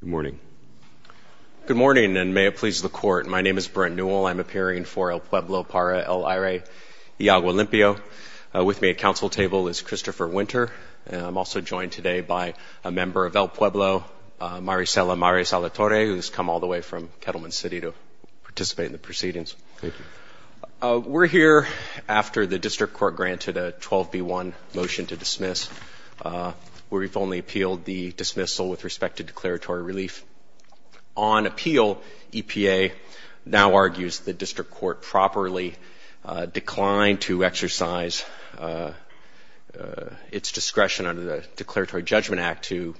Good morning. Good morning, and may it please the Court. My name is Brent Newell. I'm appearing for El Pueblo Para El Aire Y Agua Limpio. With me at council table is Christopher Winter, and I'm also joined today by a member of El Pueblo, Maricela Maris-Alatorre, who's come all the way from Kettleman City to participate in the proceedings. Thank you. We're here after the district court granted a 12B1 motion to dismiss. We've only appealed the dismissal with respect to declaratory relief. On appeal, EPA now argues the district court properly declined to exercise its discretion under the Declaratory Judgment Act to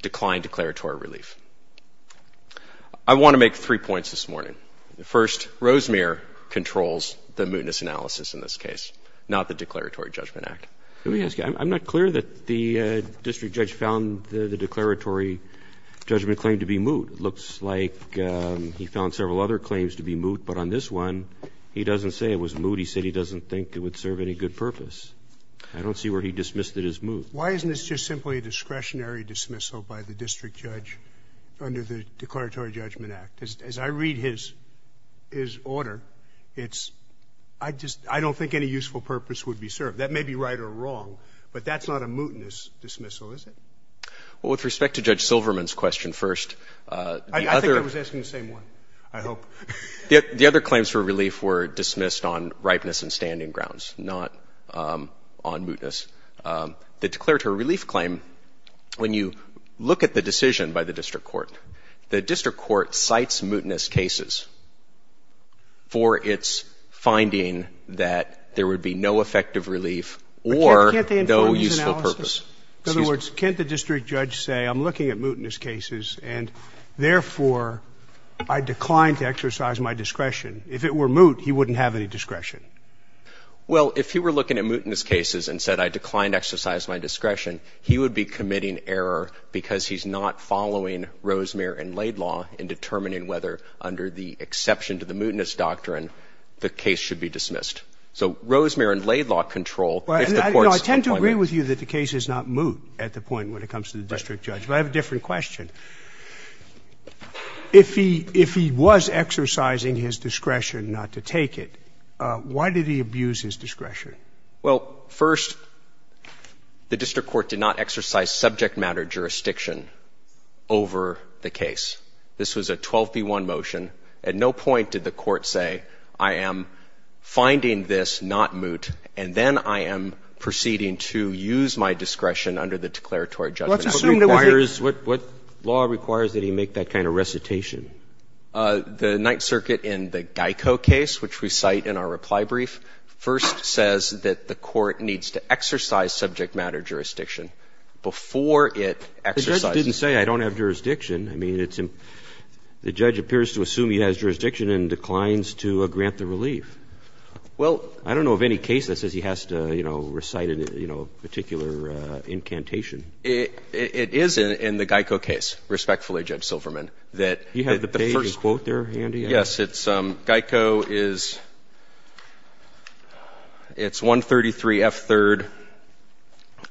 decline declaratory relief. I want to make three points this morning. First, Rosemere controls the mootness analysis in this case, not the Declaratory Judgment Act. Let me ask you, I'm not clear that the district judge found the declaratory judgment claim to be moot. It looks like he found several other claims to be moot, but on this one he doesn't say it was moot. He said he doesn't think it would serve any good purpose. I don't see where he dismissed it as moot. Why isn't this just simply a discretionary dismissal by the district judge under the Declaratory Judgment Act? As I read his order, I don't think any useful purpose would be served. That may be right or wrong, but that's not a mootness dismissal, is it? Well, with respect to Judge Silverman's question first, the other. I think I was asking the same one, I hope. The other claims for relief were dismissed on ripeness and standing grounds, not on mootness. The declaratory relief claim, when you look at the decision by the district court, the district court cites mootness cases for its finding that there would be no effective relief or no useful purpose. In other words, can't the district judge say I'm looking at mootness cases and, therefore, I declined to exercise my discretion? If it were moot, he wouldn't have any discretion. Well, if he were looking at mootness cases and said I declined to exercise my discretion, he would be committing error because he's not following Rosemere and Laidlaw in determining whether, under the exception to the mootness doctrine, the case should be dismissed. So Rosemere and Laidlaw control if the court's appointment. No, I tend to agree with you that the case is not moot at the point when it comes to the district judge. But I have a different question. If he was exercising his discretion not to take it, why did he abuse his discretion? Well, first, the district court did not exercise subject matter jurisdiction over the case. This was a 12b-1 motion. At no point did the court say, I am finding this not moot, and then I am proceeding to use my discretion under the declaratory judgment. What requires that he make that kind of recitation? The Ninth Circuit in the Geico case, which we cite in our reply brief, first says that the court needs to exercise subject matter jurisdiction before it exercises it. The judge didn't say, I don't have jurisdiction. I mean, it's the judge appears to assume he has jurisdiction and declines to grant the relief. Well, I don't know of any case that says he has to, you know, recite a particular incantation. It is in the Geico case, respectfully, Judge Silverman, that the first. He had the page and quote there handy? Yes. It's Geico is, it's 133 F3rd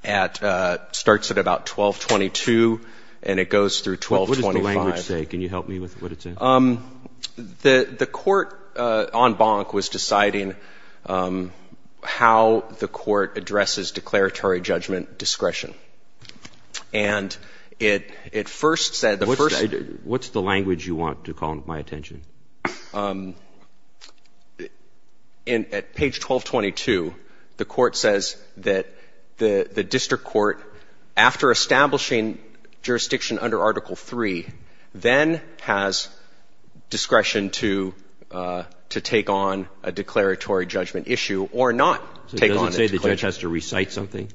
at, starts at about 1222 and it goes through 1225. What does the language say? Can you help me with what it says? The court en banc was deciding how the court addresses declaratory judgment discretion. And it first said, the first. What's the language you want to call my attention? At page 1222, the court says that the district court, after establishing jurisdiction under Article III, then has discretion to take on a declaratory judgment issue or not take on it. So it doesn't say the judge has to recite something?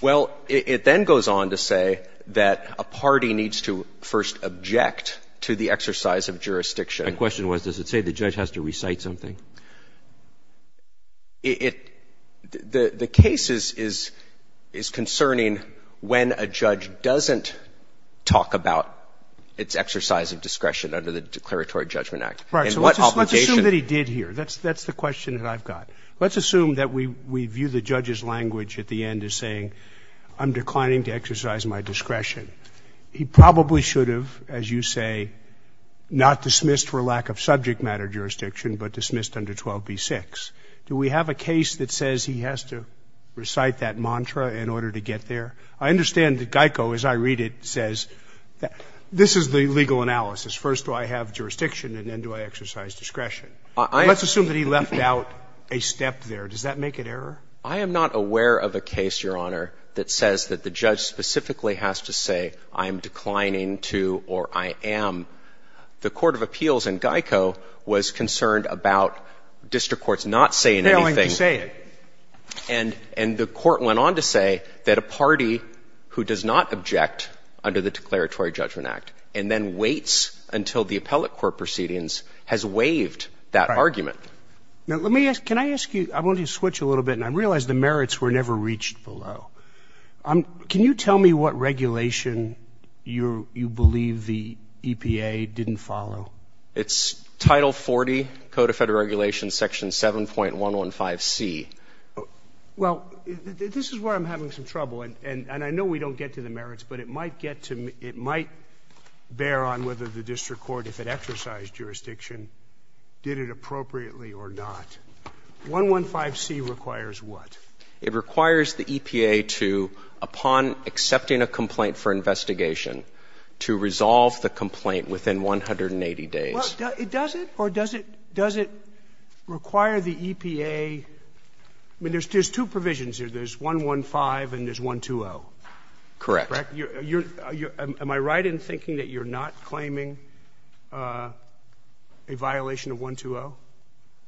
Well, it then goes on to say that a party needs to first object to the exercise of jurisdiction. My question was, does it say the judge has to recite something? It, the case is concerning when a judge doesn't talk about its exercise of discretion under the Declaratory Judgment Act. Right. So let's assume that he did here. That's the question that I've got. Let's assume that we view the judge's language at the end as saying, I'm declining to exercise my discretion. He probably should have, as you say, not dismissed for lack of subject matter jurisdiction, but dismissed under 12b-6. Do we have a case that says he has to recite that mantra in order to get there? I understand that Geico, as I read it, says this is the legal analysis. First do I have jurisdiction and then do I exercise discretion. Let's assume that he left out a step there. Does that make an error? I am not aware of a case, Your Honor, that says that the judge specifically has to say, I am declining to, or I am. The court of appeals in Geico was concerned about district courts not saying anything. Failing to say it. And the court went on to say that a party who does not object under the Declaratory Judgment Act and then waits until the appellate court proceedings has waived that argument. Now, let me ask, can I ask you, I want you to switch a little bit, and I realize the merits were never reached below. Can you tell me what regulation you believe the EPA didn't follow? It's Title 40, Code of Federal Regulations, Section 7.115C. Well, this is where I'm having some trouble, and I know we don't get to the merits, but it might get to me. It might bear on whether the district court, if it exercised jurisdiction, did it appropriately or not. 115C requires what? It requires the EPA to, upon accepting a complaint for investigation, to resolve the complaint within 180 days. Well, it doesn't? Or does it require the EPA? I mean, there's two provisions here. There's 115 and there's 120. Correct. Am I right in thinking that you're not claiming a violation of 120?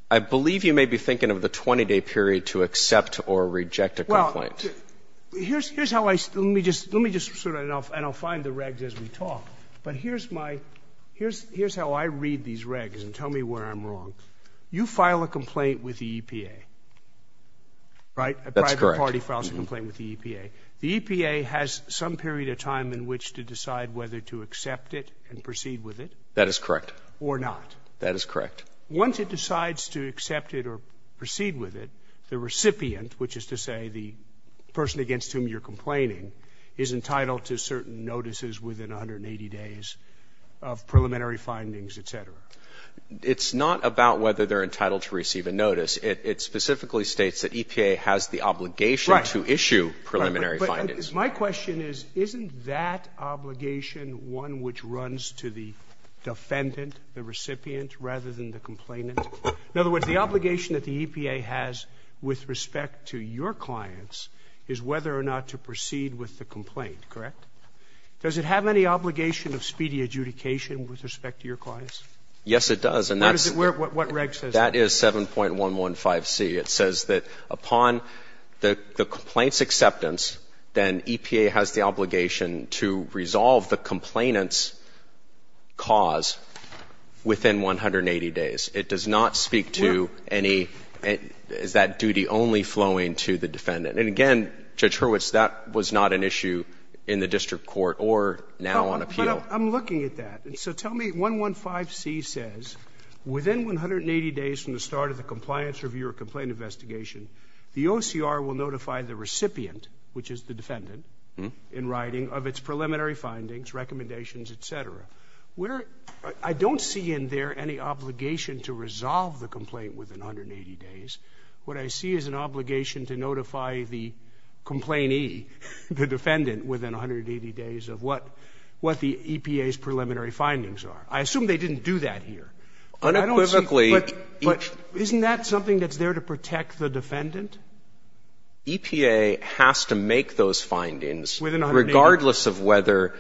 I believe you may be thinking of the 20-day period to accept or reject a complaint. Well, here's how I – let me just sort it out, and I'll find the regs as we talk. But here's my – here's how I read these regs and tell me where I'm wrong. You file a complaint with the EPA, right? That's correct. A private party files a complaint with the EPA. The EPA has some period of time in which to decide whether to accept it and proceed with it. That is correct. Or not. That is correct. Once it decides to accept it or proceed with it, the recipient, which is to say the person against whom you're complaining, is entitled to certain notices within 180 days of preliminary findings, et cetera. It's not about whether they're entitled to receive a notice. It specifically states that EPA has the obligation to issue preliminary findings. But my question is, isn't that obligation one which runs to the defendant, the recipient, rather than the complainant? In other words, the obligation that the EPA has with respect to your clients is whether or not to proceed with the complaint, correct? Does it have any obligation of speedy adjudication with respect to your clients? Yes, it does. And that's – What is it? What reg says? That is 7.115C. It says that upon the complaint's acceptance, then EPA has the obligation to resolve the complainant's cause within 180 days. It does not speak to any – is that duty only flowing to the defendant? And again, Judge Hurwitz, that was not an issue in the district court or now on appeal. But I'm looking at that. So tell me – 115C says within 180 days from the start of the compliance review or complaint investigation, the OCR will notify the recipient, which is the defendant, in writing, of its preliminary findings, recommendations, et cetera. I don't see in there any obligation to resolve the complaint within 180 days. What I see is an obligation to notify the complainee, the defendant, within 180 days of what the EPA's preliminary findings are. I assume they didn't do that here. I don't see – Unequivocally, each – But isn't that something that's there to protect the defendant? EPA has to make those findings regardless of whether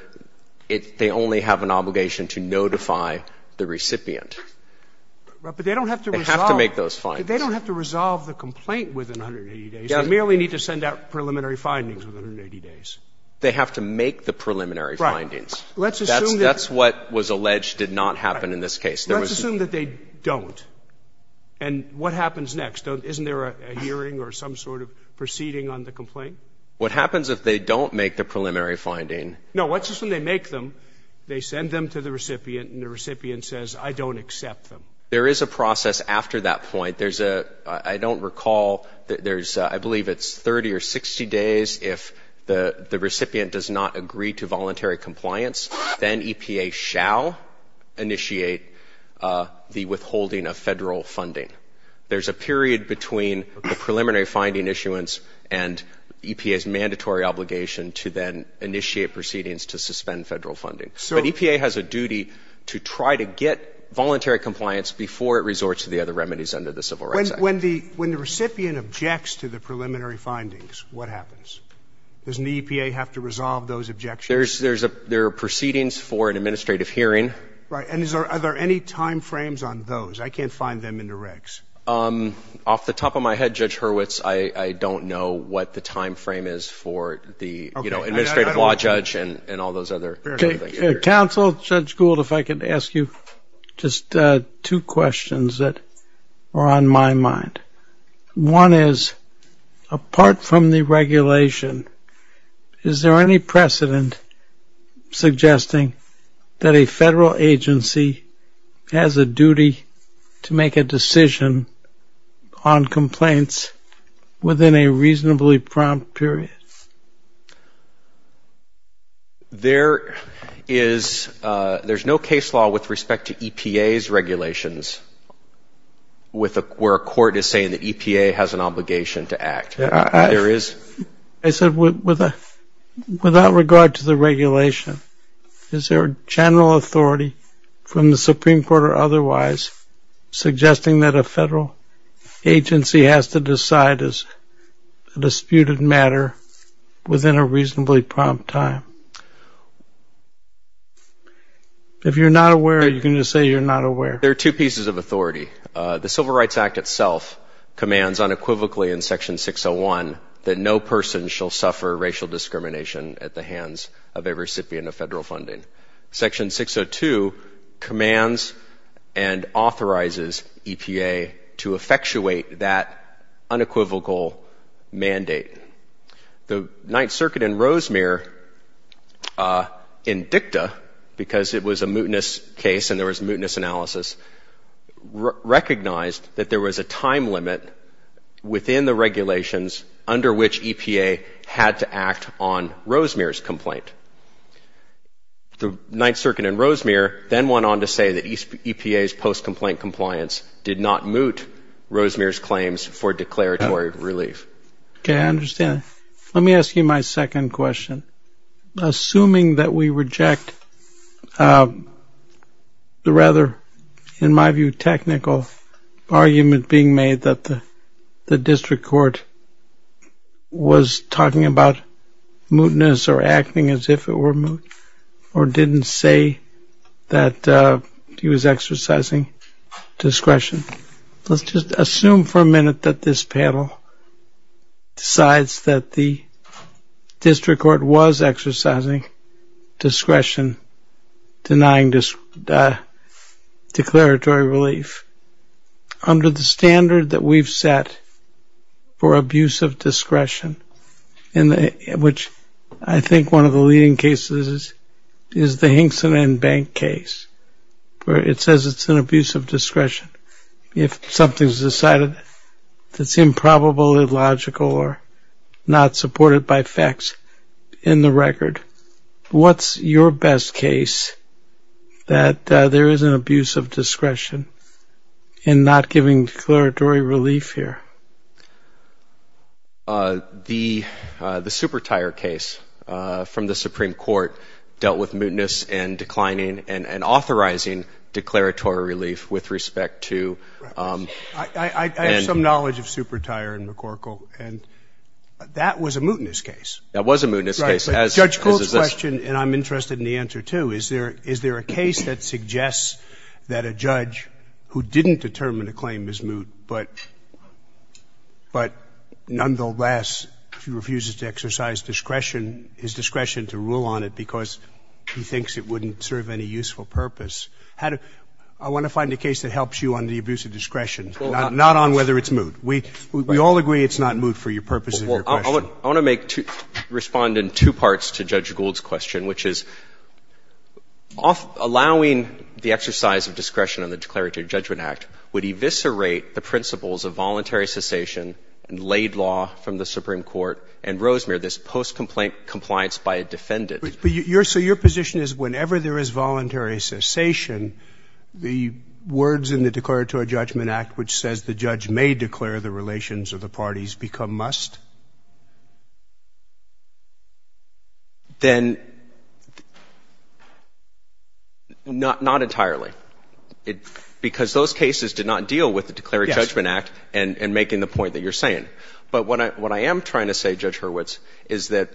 they only have an obligation to notify the recipient. But they don't have to resolve – They have to make those findings. They don't have to resolve the complaint within 180 days. They merely need to send out preliminary findings within 180 days. They have to make the preliminary findings. Let's assume that – That's what was alleged did not happen in this case. Let's assume that they don't. And what happens next? Isn't there a hearing or some sort of proceeding on the complaint? What happens if they don't make the preliminary finding? No. Let's assume they make them. They send them to the recipient, and the recipient says, I don't accept them. There is a process after that point. There's a – I don't recall. There's – I believe it's 30 or 60 days. If the recipient does not agree to voluntary compliance, then EPA shall initiate the withholding of Federal funding. There's a period between the preliminary finding issuance and EPA's mandatory obligation to then initiate proceedings to suspend Federal funding. But EPA has a duty to try to get voluntary compliance before it resorts to the other remedies under the Civil Rights Act. When the recipient objects to the preliminary findings, what happens? Doesn't the EPA have to resolve those objections? There are proceedings for an administrative hearing. Right. And are there any timeframes on those? I can't find them in the regs. Off the top of my head, Judge Hurwitz, I don't know what the timeframe is for the administrative law judge and all those other things. Counsel, Judge Gould, if I could ask you just two questions that are on my mind. One is, apart from the regulation, is there any precedent suggesting that a Federal agency has a duty to make a decision on complaints within a reasonably prompt period? There is no case law with respect to EPA's regulations where a court is saying that EPA has an obligation to act. I said without regard to the regulation, is there a general authority from the Supreme Court or otherwise suggesting that a Federal agency has to decide as a judge within a reasonably prompt time? If you're not aware, are you going to say you're not aware? There are two pieces of authority. The Civil Rights Act itself commands unequivocally in Section 601 that no person shall suffer racial discrimination at the hands of a recipient of Federal funding. Section 602 commands and authorizes EPA to effectuate that unequivocal mandate. The Ninth Circuit in Rosemere, in dicta, because it was a mootness case and there was mootness analysis, recognized that there was a time limit within the regulations under which EPA had to act on Rosemere's complaint. The Ninth Circuit in Rosemere then went on to say that EPA's post-complaint compliance did not moot Rosemere's claims for declaratory relief. Okay, I understand. Let me ask you my second question. Assuming that we reject the rather, in my view, technical argument being made that the district court was talking about mootness or acting as if it were moot or didn't say that he was exercising discretion, let's just assume for a minute that this panel decides that the district court was exercising discretion denying declaratory relief. Under the standard that we've set for abuse of discretion, which I think one of the leading cases is the Hinkson and Bank case, where it says it's an abuse of discretion if something's decided that's improbable, illogical, or not supported by facts in the record. What's your best case that there is an abuse of discretion in not giving declaratory relief here? The Supertire case from the Supreme Court dealt with mootness and declining and authorizing declaratory relief with respect to... I have some knowledge of Supertire and McCorkle. And that was a mootness case. That was a mootness case, as is this. Right. But Judge Gould's question, and I'm interested in the answer, too, is there a case that suggests that a judge who didn't determine a claim is moot but nonetheless refuses to exercise discretion, his discretion to rule on it because he thinks it wouldn't serve any useful purpose. I want to find a case that helps you on the abuse of discretion, not on whether it's moot. We all agree it's not moot for your purposes of your question. I want to make two – respond in two parts to Judge Gould's question, which is allowing the exercise of discretion on the Declaratory Judgment Act would eviscerate the principles of voluntary cessation and laid law from the Supreme Court and Rosemere, this post-compliance by a defendant. So your position is whenever there is voluntary cessation, the words in the Declaratory Judgment Act which says the judge may declare the relations of the parties become must? Then not entirely. Because those cases did not deal with the Declaratory Judgment Act and making the point that you're saying. But what I am trying to say, Judge Hurwitz, is that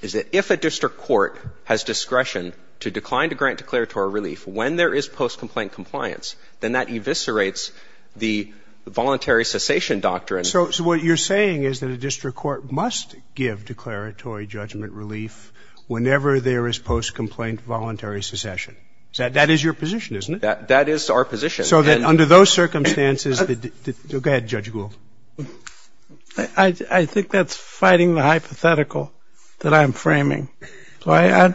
if a district court has discretion to decline to grant declaratory relief when there is post-complaint compliance, then that eviscerates the voluntary cessation doctrine. So what you're saying is that a district court must give declaratory judgment relief whenever there is post-complaint voluntary cessation. That is your position, isn't it? That is our position. So that under those circumstances the – go ahead, Judge Gould. I think that's fighting the hypothetical that I'm framing. I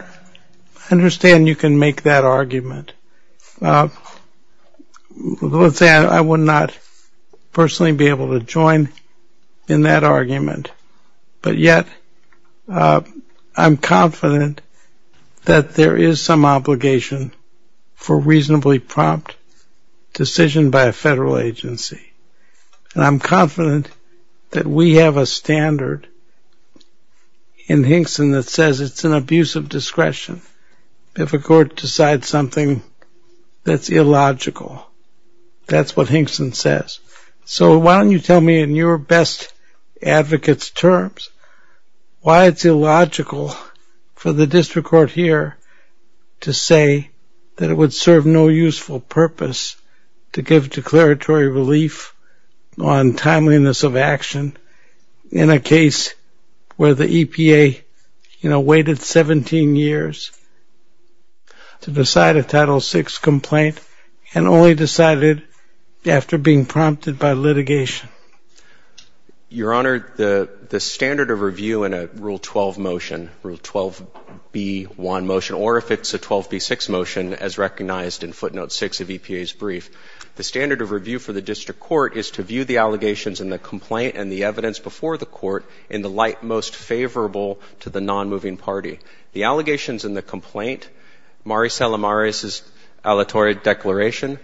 understand you can make that argument. Let's say I would not personally be able to join in that argument, but yet I'm confident that there is some obligation for reasonably prompt decision by a federal agency. And I'm confident that we have a standard in Hinkson that says it's an abuse of discretion if a court decides something that's illogical. That's what Hinkson says. So why don't you tell me in your best advocate's terms why it's illogical for the district court here to say that it would serve no useful purpose to give declaratory relief on timeliness of action in a case where the EPA, you know, waited 17 years to decide a Title VI complaint and only decided after being prompted by litigation? Your Honor, the standard of review in a Rule 12 motion, Rule 12b1 motion, or if it's a 12b6 motion as recognized in footnote 6 of EPA's brief, the standard of review for the district court is to view the allegations in the complaint and the evidence before the court in the light most favorable to the non-moving party. The allegations in the complaint, Maricela Maris' aleatory declaration,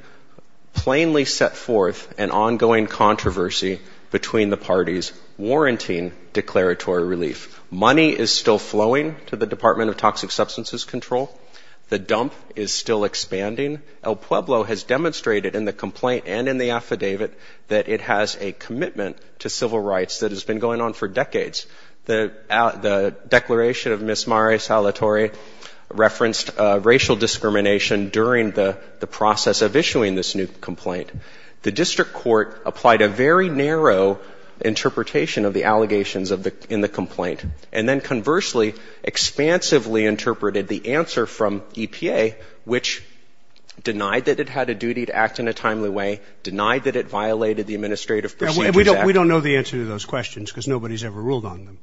plainly set forth an ongoing controversy between the parties warranting declaratory relief. Money is still flowing to the Department of Toxic Substances Control. The dump is still expanding. El Pueblo has demonstrated in the complaint and in the affidavit that it has a commitment to civil rights that has been going on for decades. The declaration of Ms. Maris' aleatory referenced racial discrimination during the process of issuing this new complaint. The district court applied a very narrow interpretation of the allegations in the complaint and then conversely expansively interpreted the answer from EPA, which denied that it had a duty to act in a timely way, denied that it violated the Administrative Procedures Act. We don't know the answer to those questions because nobody has ever ruled on them.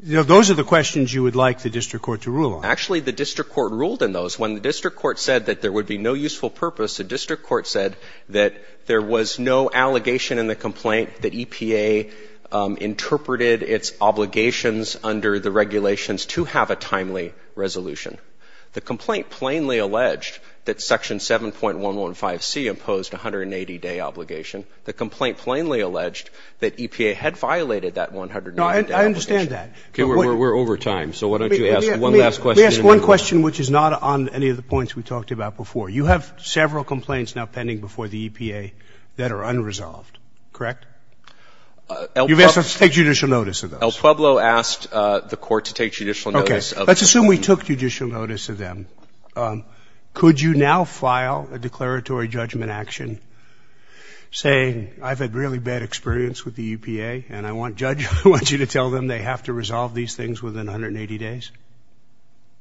Those are the questions you would like the district court to rule on. Actually, the district court ruled in those. When the district court said that there would be no useful purpose, the district court said that there was no allegation in the complaint that EPA interpreted its obligations under the regulations to have a timely resolution. The complaint plainly alleged that Section 7.115C imposed a 180-day obligation. The complaint plainly alleged that EPA had violated that 180-day obligation. No, I understand that. Okay, we're over time, so why don't you ask one last question. Let me ask one question which is not on any of the points we talked about before. You have several complaints now pending before the EPA that are unresolved, correct? You've asked us to take judicial notice of those. El Pueblo asked the court to take judicial notice of those. Okay, let's assume we took judicial notice of them. Could you now file a declaratory judgment action saying I've had really bad experience with the EPA and I want you to tell them they have to resolve these things within 180 days?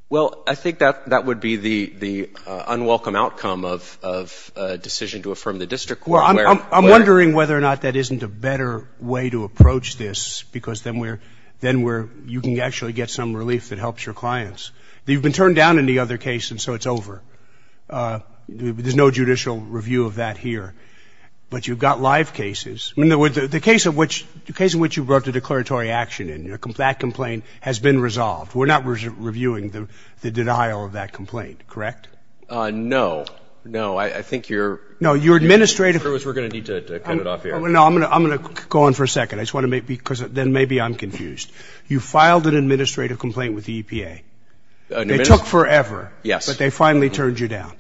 Well, I think that would be the unwelcome outcome of a decision to affirm the district court. Well, I'm wondering whether or not that isn't a better way to approach this because then we're you can actually get some relief that helps your clients. You've been turned down in the other case, and so it's over. There's no judicial review of that here. But you've got live cases. The case in which you brought the declaratory action in, that complaint has been resolved. We're not reviewing the denial of that complaint, correct? No. No, I think you're going to need to cut it off here. No, I'm going to go on for a second because then maybe I'm confused. You filed an administrative complaint with the EPA. They took forever, but they finally turned you down.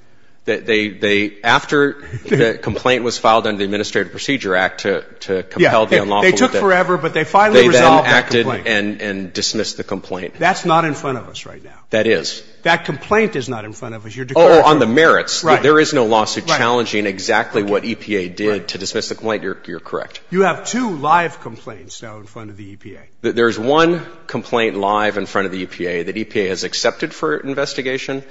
After the complaint was filed under the Administrative Procedure Act to compel the unlawful. They took forever, but they finally resolved that complaint. They then acted and dismissed the complaint. That's not in front of us right now. That is. That complaint is not in front of us. Oh, on the merits. Right. There is no lawsuit challenging exactly what EPA did to dismiss the complaint. You're correct. You have two live complaints now in front of the EPA. There's one complaint live in front of the EPA that EPA has accepted for investigation.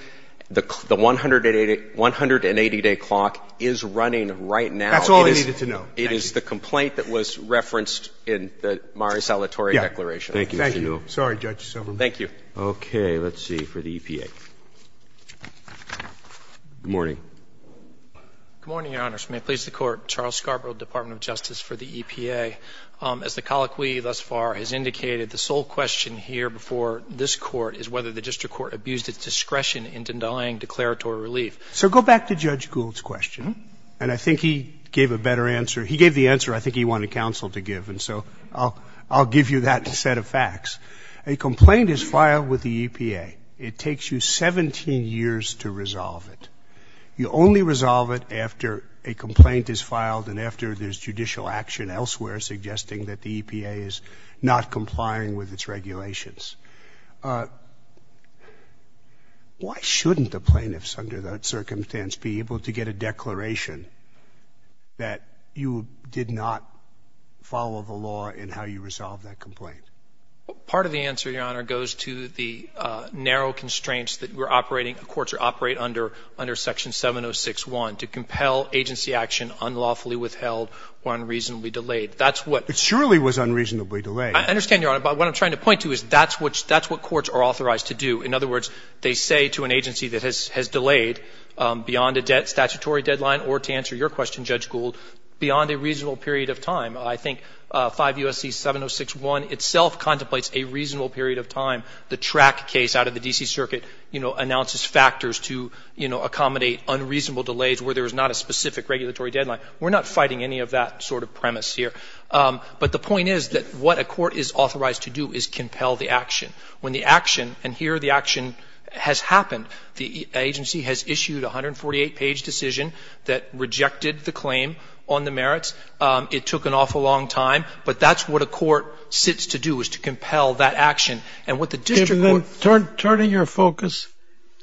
The 180-day clock is running right now. That's all I needed to know. It is the complaint that was referenced in the Mari Salvatore declaration. Thank you, Mr. Newell. Sorry, Judge Silverman. Thank you. Okay. Let's see for the EPA. Good morning. Good morning, Your Honors. May it please the Court. Charles Scarborough, Department of Justice for the EPA. As the colloquy thus far has indicated, the sole question here before this Court is whether the district court abused its discretion in denying declaratory relief. So go back to Judge Gould's question, and I think he gave a better answer. He gave the answer I think he wanted counsel to give, and so I'll give you that set of facts. A complaint is filed with the EPA. It takes you 17 years to resolve it. You only resolve it after a complaint is filed and after there's judicial action elsewhere suggesting that the EPA is not complying with its regulations. Why shouldn't the plaintiffs under that circumstance be able to get a declaration that you did not follow the law in how you resolved that complaint? Part of the answer, Your Honor, goes to the narrow constraints that we're operating in courts or operate under, under Section 706.1, to compel agency action unlawfully withheld or unreasonably delayed. That's what — It surely was unreasonably delayed. I understand, Your Honor, but what I'm trying to point to is that's what courts are authorized to do. In other words, they say to an agency that has delayed beyond a statutory deadline or, to answer your question, Judge Gould, beyond a reasonable period of time. I think 5 U.S.C. 706.1 itself contemplates a reasonable period of time. The track case out of the D.C. Circuit, you know, announces factors to, you know, accommodate unreasonable delays where there is not a specific regulatory deadline. We're not fighting any of that sort of premise here. But the point is that what a court is authorized to do is compel the action. When the action — and here the action has happened. The agency has issued a 148-page decision that rejected the claim on the merits. It took an awful long time. But that's what a court sits to do is to compel that action. And what the district court — Turning your focus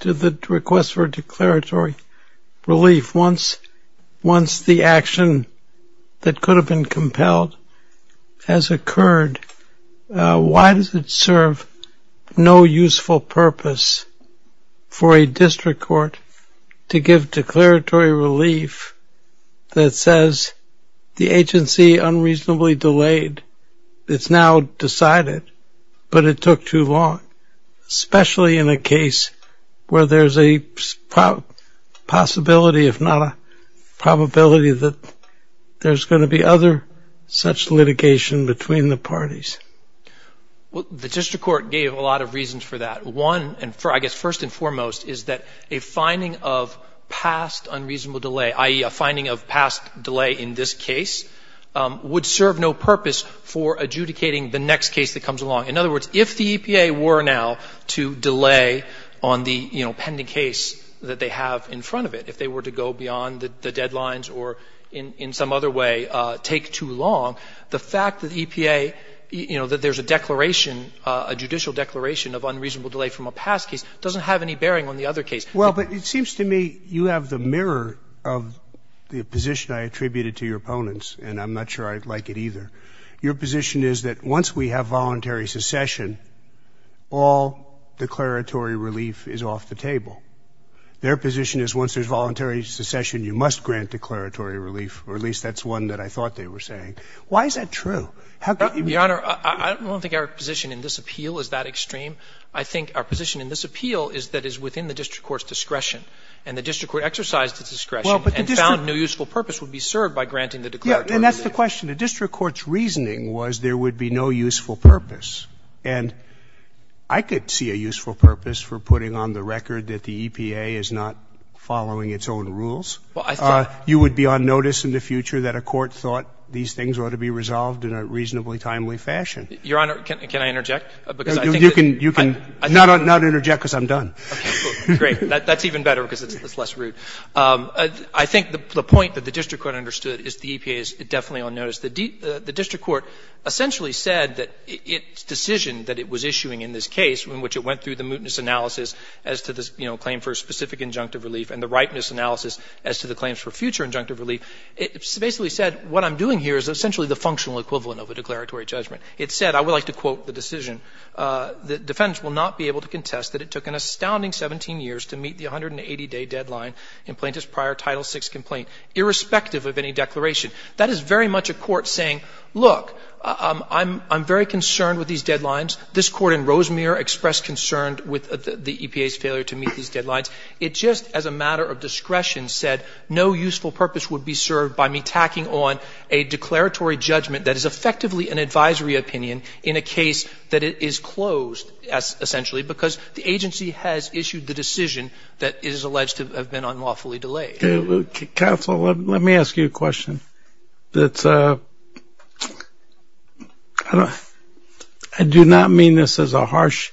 to the request for declaratory relief, once the action that could have been for a district court to give declaratory relief that says the agency unreasonably delayed, it's now decided, but it took too long, especially in a case where there's a possibility, if not a probability, that there's going to be other such litigation between the parties. Well, the district court gave a lot of reasons for that. One, and I guess first and foremost, is that a finding of past unreasonable delay, i.e., a finding of past delay in this case, would serve no purpose for adjudicating the next case that comes along. In other words, if the EPA were now to delay on the, you know, pending case that they have in front of it, if they were to go beyond the deadlines or in some other way take too long, the fact that EPA — you know, that there's a declaration, a judicial declaration of unreasonable delay from a past case doesn't have any bearing on the other case. Well, but it seems to me you have the mirror of the position I attributed to your opponents, and I'm not sure I'd like it either. Your position is that once we have voluntary secession, all declaratory relief is off the table. Their position is once there's voluntary secession, you must grant declaratory relief, or at least that's one that I thought they were saying. Why is that true? I don't think our position in this appeal is that extreme. I think our position in this appeal is that it's within the district court's discretion, and the district court exercised its discretion and found no useful purpose would be served by granting the declaratory relief. And that's the question. The district court's reasoning was there would be no useful purpose. And I could see a useful purpose for putting on the record that the EPA is not following its own rules. You would be on notice in the future that a court thought these things ought to be done in a reasonably timely fashion. Your Honor, can I interject? You can not interject because I'm done. Great. That's even better because it's less rude. I think the point that the district court understood is the EPA is definitely on notice. The district court essentially said that its decision that it was issuing in this case, in which it went through the mootness analysis as to the claim for specific injunctive relief and the ripeness analysis as to the claims for future injunctive relief, it basically said what I'm doing here is essentially the functional equivalent of a declaratory judgment. It said, I would like to quote the decision. The defendants will not be able to contest that it took an astounding 17 years to meet the 180-day deadline in plaintiff's prior Title VI complaint, irrespective of any declaration. That is very much a court saying, look, I'm very concerned with these deadlines. This Court in Rosemere expressed concern with the EPA's failure to meet these deadlines. It just as a matter of discretion said no useful purpose would be served by me tacking on a declaratory judgment that is effectively an advisory opinion in a case that it is closed, essentially, because the agency has issued the decision that it is alleged to have been unlawfully delayed. Okay. Counsel, let me ask you a question. That's a ‑‑ I do not mean this as a harsh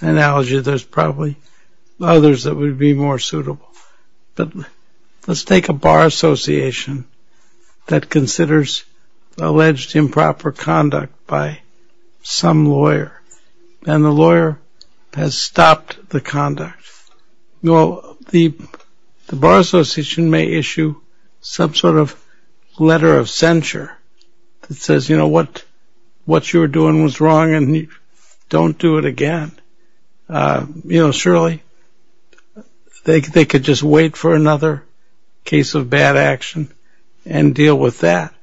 analogy. There's probably others that would be more suitable. But let's take a bar association that considers alleged improper conduct by some lawyer, and the lawyer has stopped the conduct. Well, the bar association may issue some sort of letter of censure that says, you were doing was wrong and don't do it again. You know, surely they could just wait for another case of bad action and deal with that.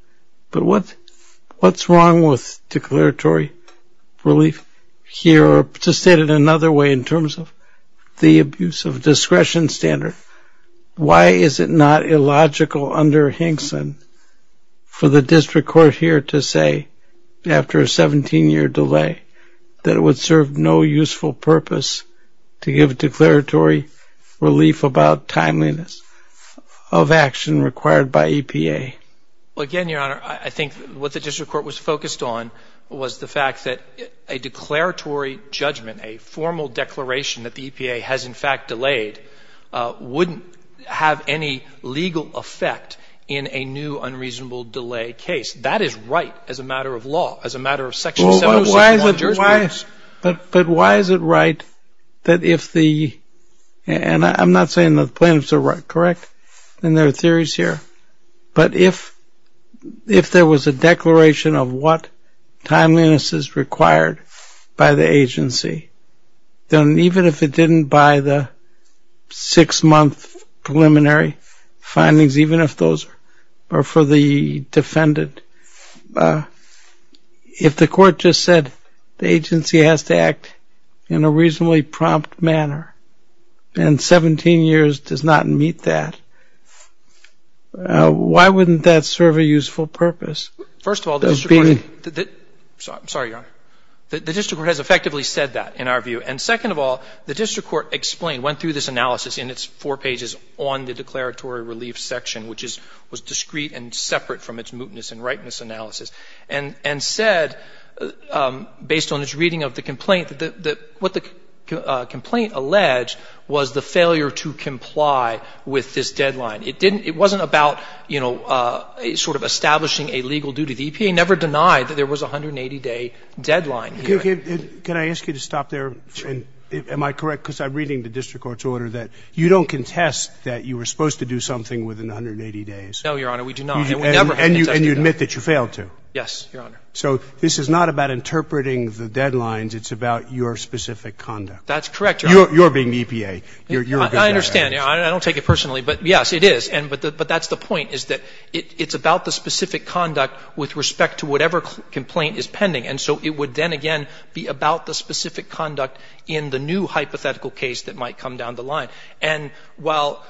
But what's wrong with declaratory relief here? Or to state it another way in terms of the abuse of discretion standard, why is it not logical under Hinkson for the district court here to say after a 17‑year delay that it would serve no useful purpose to give declaratory relief about timeliness of action required by EPA? Well, again, Your Honor, I think what the district court was focused on was the fact that a declaratory judgment, a formal declaration that the EPA has, in fact, delayed, wouldn't have any legal effect in a new unreasonable delay case. That is right as a matter of law, as a matter of section 761 of the jurisprudence. But why is it right that if the ‑‑ and I'm not saying the plaintiffs are correct, and there are theories here. But if there was a declaration of what timeliness is required by the agency, then even if it didn't buy the six‑month preliminary findings, even if those are for the defendant, if the court just said the agency has to act in a reasonably prompt manner and 17 years does not meet that, why wouldn't that serve a useful purpose? First of all, the district court has effectively said that in our view. And second of all, the district court explained, went through this analysis in its four pages on the declaratory relief section, which was discrete and separate from its mootness and ripeness analysis, and said, based on its reading of the complaint, that what the complaint alleged was the failure to comply with this deadline. It didn't ‑‑ it wasn't about, you know, sort of establishing a legal duty. The EPA never denied that there was a 180‑day deadline. Can I ask you to stop there? Sure. Am I correct? Because I'm reading the district court's order that you don't contest that you were supposed to do something within 180 days. No, Your Honor. We do not. And you admit that you failed to. Yes, Your Honor. So this is not about interpreting the deadlines. It's about your specific conduct. That's correct, Your Honor. You're being EPA. I understand. I don't take it personally. But, yes, it is. But that's the point, is that it's about the specific conduct with respect to whatever complaint is pending. And so it would then, again, be about the specific conduct in the new hypothetical case that might come down the line. And while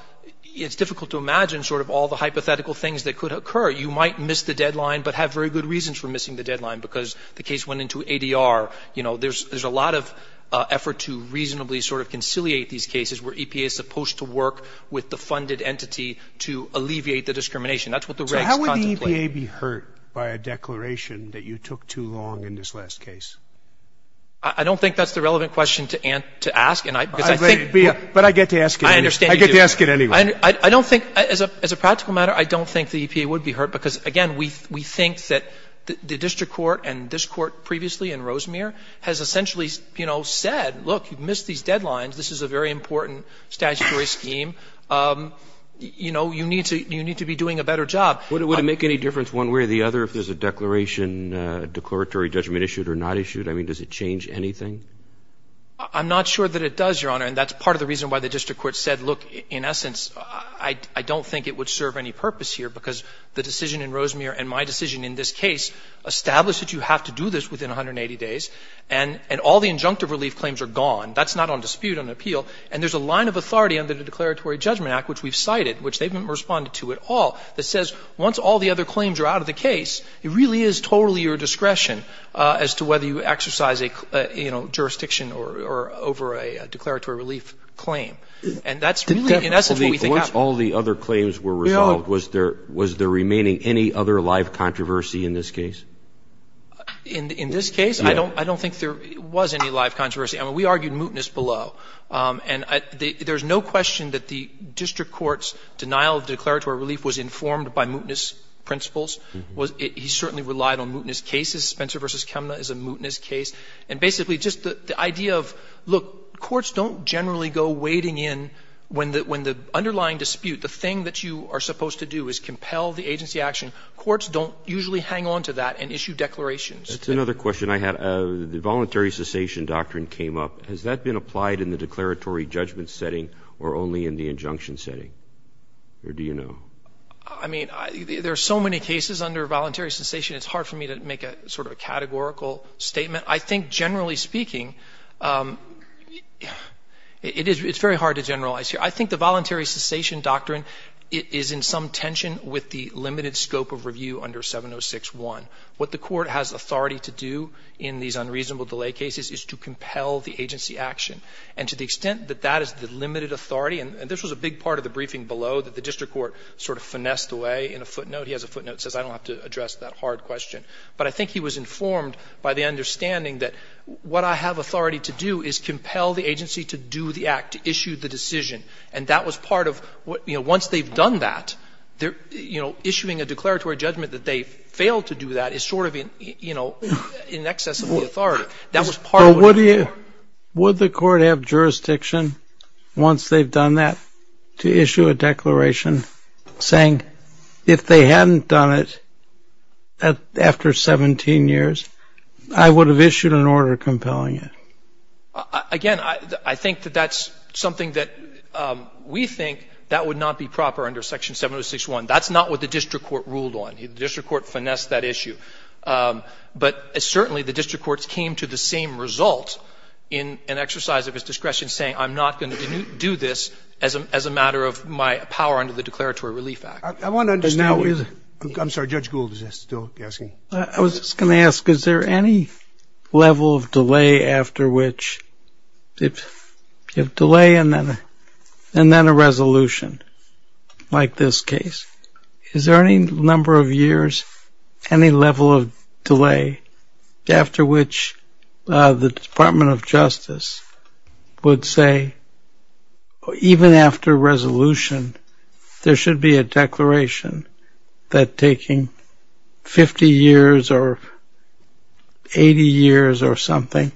it's difficult to imagine sort of all the hypothetical things that could occur, you might miss the deadline but have very good reasons for missing the deadline, because the case went into ADR. You know, there's a lot of effort to reasonably sort of conciliate these cases where EPA is supposed to work with the funded entity to alleviate the discrimination. That's what the regs contemplate. So how would the EPA be hurt by a declaration that you took too long in this last case? I don't think that's the relevant question to ask. But I get to ask it anyway. I understand you do. I get to ask it anyway. I don't think, as a practical matter, I don't think the EPA would be hurt, because, again, we think that the district court and this court previously and Rosemere has essentially, you know, said, look, you've missed these deadlines. This is a very important statutory scheme. You know, you need to be doing a better job. Would it make any difference one way or the other if there's a declaration, declaratory judgment issued or not issued? I mean, does it change anything? I'm not sure that it does, Your Honor. And that's part of the reason why the district court said, look, in essence, I don't think it would serve any purpose here, because the decision in Rosemere and my decision in this case established that you have to do this within 180 days, and all the injunctive relief claims are gone. That's not on dispute, on appeal. And there's a line of authority under the Declaratory Judgment Act, which we've cited, which they haven't responded to at all, that says once all the other claims are out of the case, it really is totally your discretion as to whether you exercise a, you know, jurisdiction or over a declaratory relief claim. And that's really, in essence, what we think happened. Once all the other claims were resolved, was there remaining any other live controversy in this case? In this case, I don't think there was any live controversy. I mean, we argued mootness below. And there's no question that the district court's denial of declaratory relief was informed by mootness principles. He certainly relied on mootness cases. Spencer v. Kemna is a mootness case. And basically, just the idea of, look, courts don't generally go wading in when the underlying dispute, the thing that you are supposed to do is compel the agency action. Courts don't usually hang on to that and issue declarations. That's another question I had. The voluntary cessation doctrine came up. Has that been applied in the declaratory judgment setting or only in the injunction setting? Or do you know? I mean, there are so many cases under voluntary cessation, it's hard for me to make a sort of categorical statement. I think, generally speaking, it's very hard to generalize here. I think the voluntary cessation doctrine is in some tension with the limited scope of review under 706-1. What the court has authority to do in these unreasonable delay cases is to compel the agency action. And to the extent that that is the limited authority, and this was a big part of the briefing below, that the district court sort of finessed away in a footnote. He has a footnote that says I don't have to address that hard question. But I think he was informed by the understanding that what I have authority to do is And that was part of what, you know, once they've done that, they're, you know, issuing a declaratory judgment that they failed to do that is sort of in, you know, in excess of the authority. That was part of it. Would the court have jurisdiction once they've done that to issue a declaration saying if they hadn't done it after 17 years, I would have issued an order compelling it? Again, I think that that's something that we think that would not be proper under section 706-1. That's not what the district court ruled on. The district court finessed that issue. But certainly the district courts came to the same result in an exercise of his discretion saying I'm not going to do this as a matter of my power under the Declaratory Relief Act. I want to understand. I'm sorry. Judge Gould is still asking. I was just going to ask, is there any level of delay after which you have delay and then a resolution like this case? Is there any number of years, any level of delay after which the Department of Justice would say even after resolution, there should be a declaration that taking 50 years or 80 years or something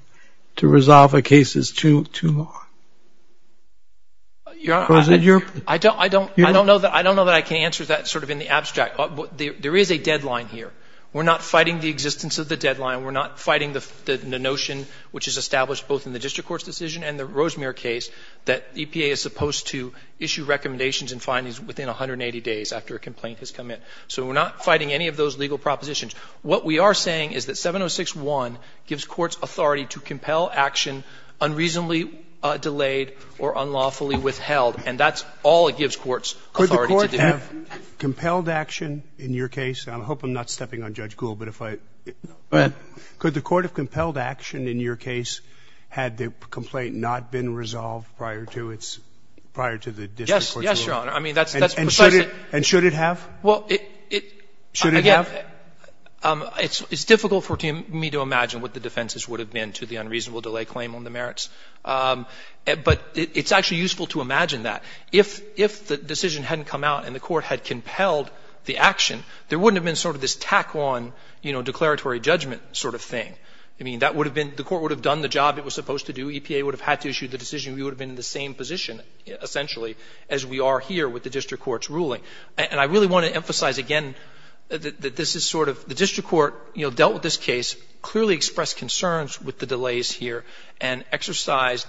to resolve a case is too long? I don't know that I can answer that sort of in the abstract. There is a deadline here. We're not fighting the existence of the deadline. We're not fighting the notion which is established both in the district court's decision and the Rosemere case that EPA is supposed to issue recommendations and findings within 180 days after a complaint has come in. So we're not fighting any of those legal propositions. What we are saying is that 706-1 gives courts authority to compel action unreasonably delayed or unlawfully withheld, and that's all it gives courts authority to do. Could the court have compelled action in your case? I hope I'm not stepping on Judge Gould, but if I – Go ahead. Could the court have compelled action in your case had the complaint not been resolved prior to its – prior to the district court's ruling? I mean, that's precisely – And should it have? Well, it – Should it have? It's difficult for me to imagine what the defenses would have been to the unreasonable delay claim on the merits. But it's actually useful to imagine that. If the decision hadn't come out and the court had compelled the action, there wouldn't have been sort of this tack-on, you know, declaratory judgment sort of thing. I mean, that would have been – the court would have done the job it was supposed to do. EPA would have had to issue the decision. We would have been in the same position, essentially, as we are here with the district court's ruling. And I really want to emphasize again that this is sort of – the district court, you know, dealt with this case, clearly expressed concerns with the delays here, and exercised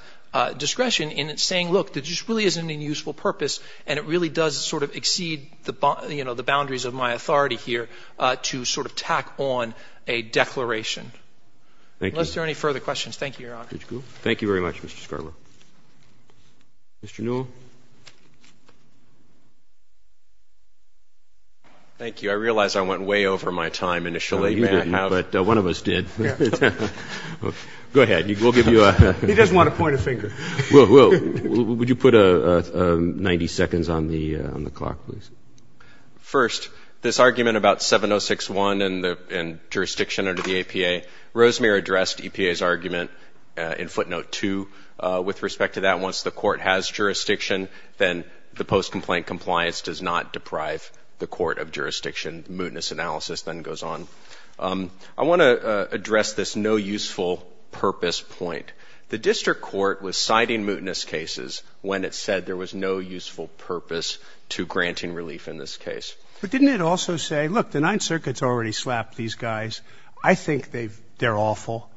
discretion in saying, look, this really isn't a useful purpose and it really does sort of exceed, you know, the boundaries of my authority here to sort of tack on a declaration. Thank you. Unless there are any further questions, thank you, Your Honor. Judge Gould. Thank you very much, Mr. Scarborough. Mr. Newell. Thank you. I realize I went way over my time initially. No, you didn't. But one of us did. Go ahead. We'll give you a – He doesn't want to point a finger. Will, would you put 90 seconds on the clock, please? First, this argument about 706.1 and jurisdiction under the APA, Rosemarie addressed EPA's argument in footnote 2 with respect to that. I want to address this no useful purpose point. The district court was citing mootness cases when it said there was no useful purpose to granting relief in this case. But didn't it also say, look, the Ninth Circuit's already slapped these guys. I think they're awful.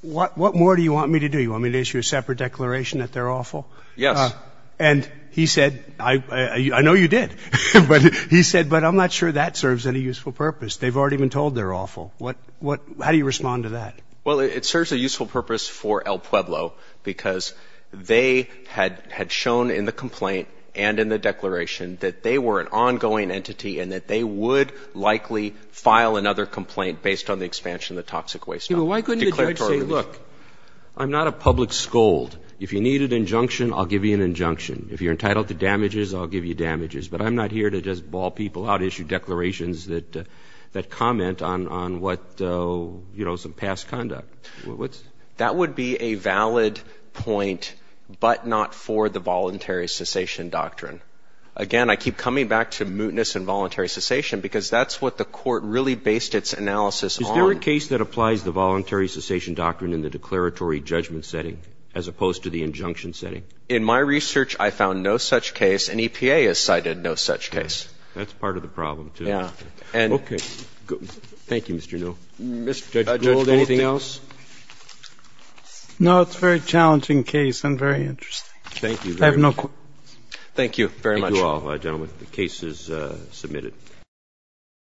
What more do you want me to do? I mean, issue a separate declaration that they're awful? Yes. And he said – I know you did. But he said, but I'm not sure that serves any useful purpose. They've already been told they're awful. How do you respond to that? Well, it serves a useful purpose for El Pueblo because they had shown in the complaint and in the declaration that they were an ongoing entity and that they would likely file another complaint based on the expansion of the toxic waste system. Why couldn't the judge say, look, I'm not a public scold. If you need an injunction, I'll give you an injunction. If you're entitled to damages, I'll give you damages. But I'm not here to just ball people out, issue declarations that comment on what – you know, some past conduct. That would be a valid point, but not for the voluntary cessation doctrine. Again, I keep coming back to mootness and voluntary cessation because that's what the Court really based its analysis on. Is there a case that applies the voluntary cessation doctrine in the declaratory judgment setting as opposed to the injunction setting? In my research, I found no such case. An EPA has cited no such case. That's part of the problem, too. Yeah. Okay. Thank you, Mr. Newell. Judge Gold, anything else? No, it's a very challenging case and very interesting. Thank you. I have no questions. Thank you very much. Thank you all, gentlemen. The case is submitted.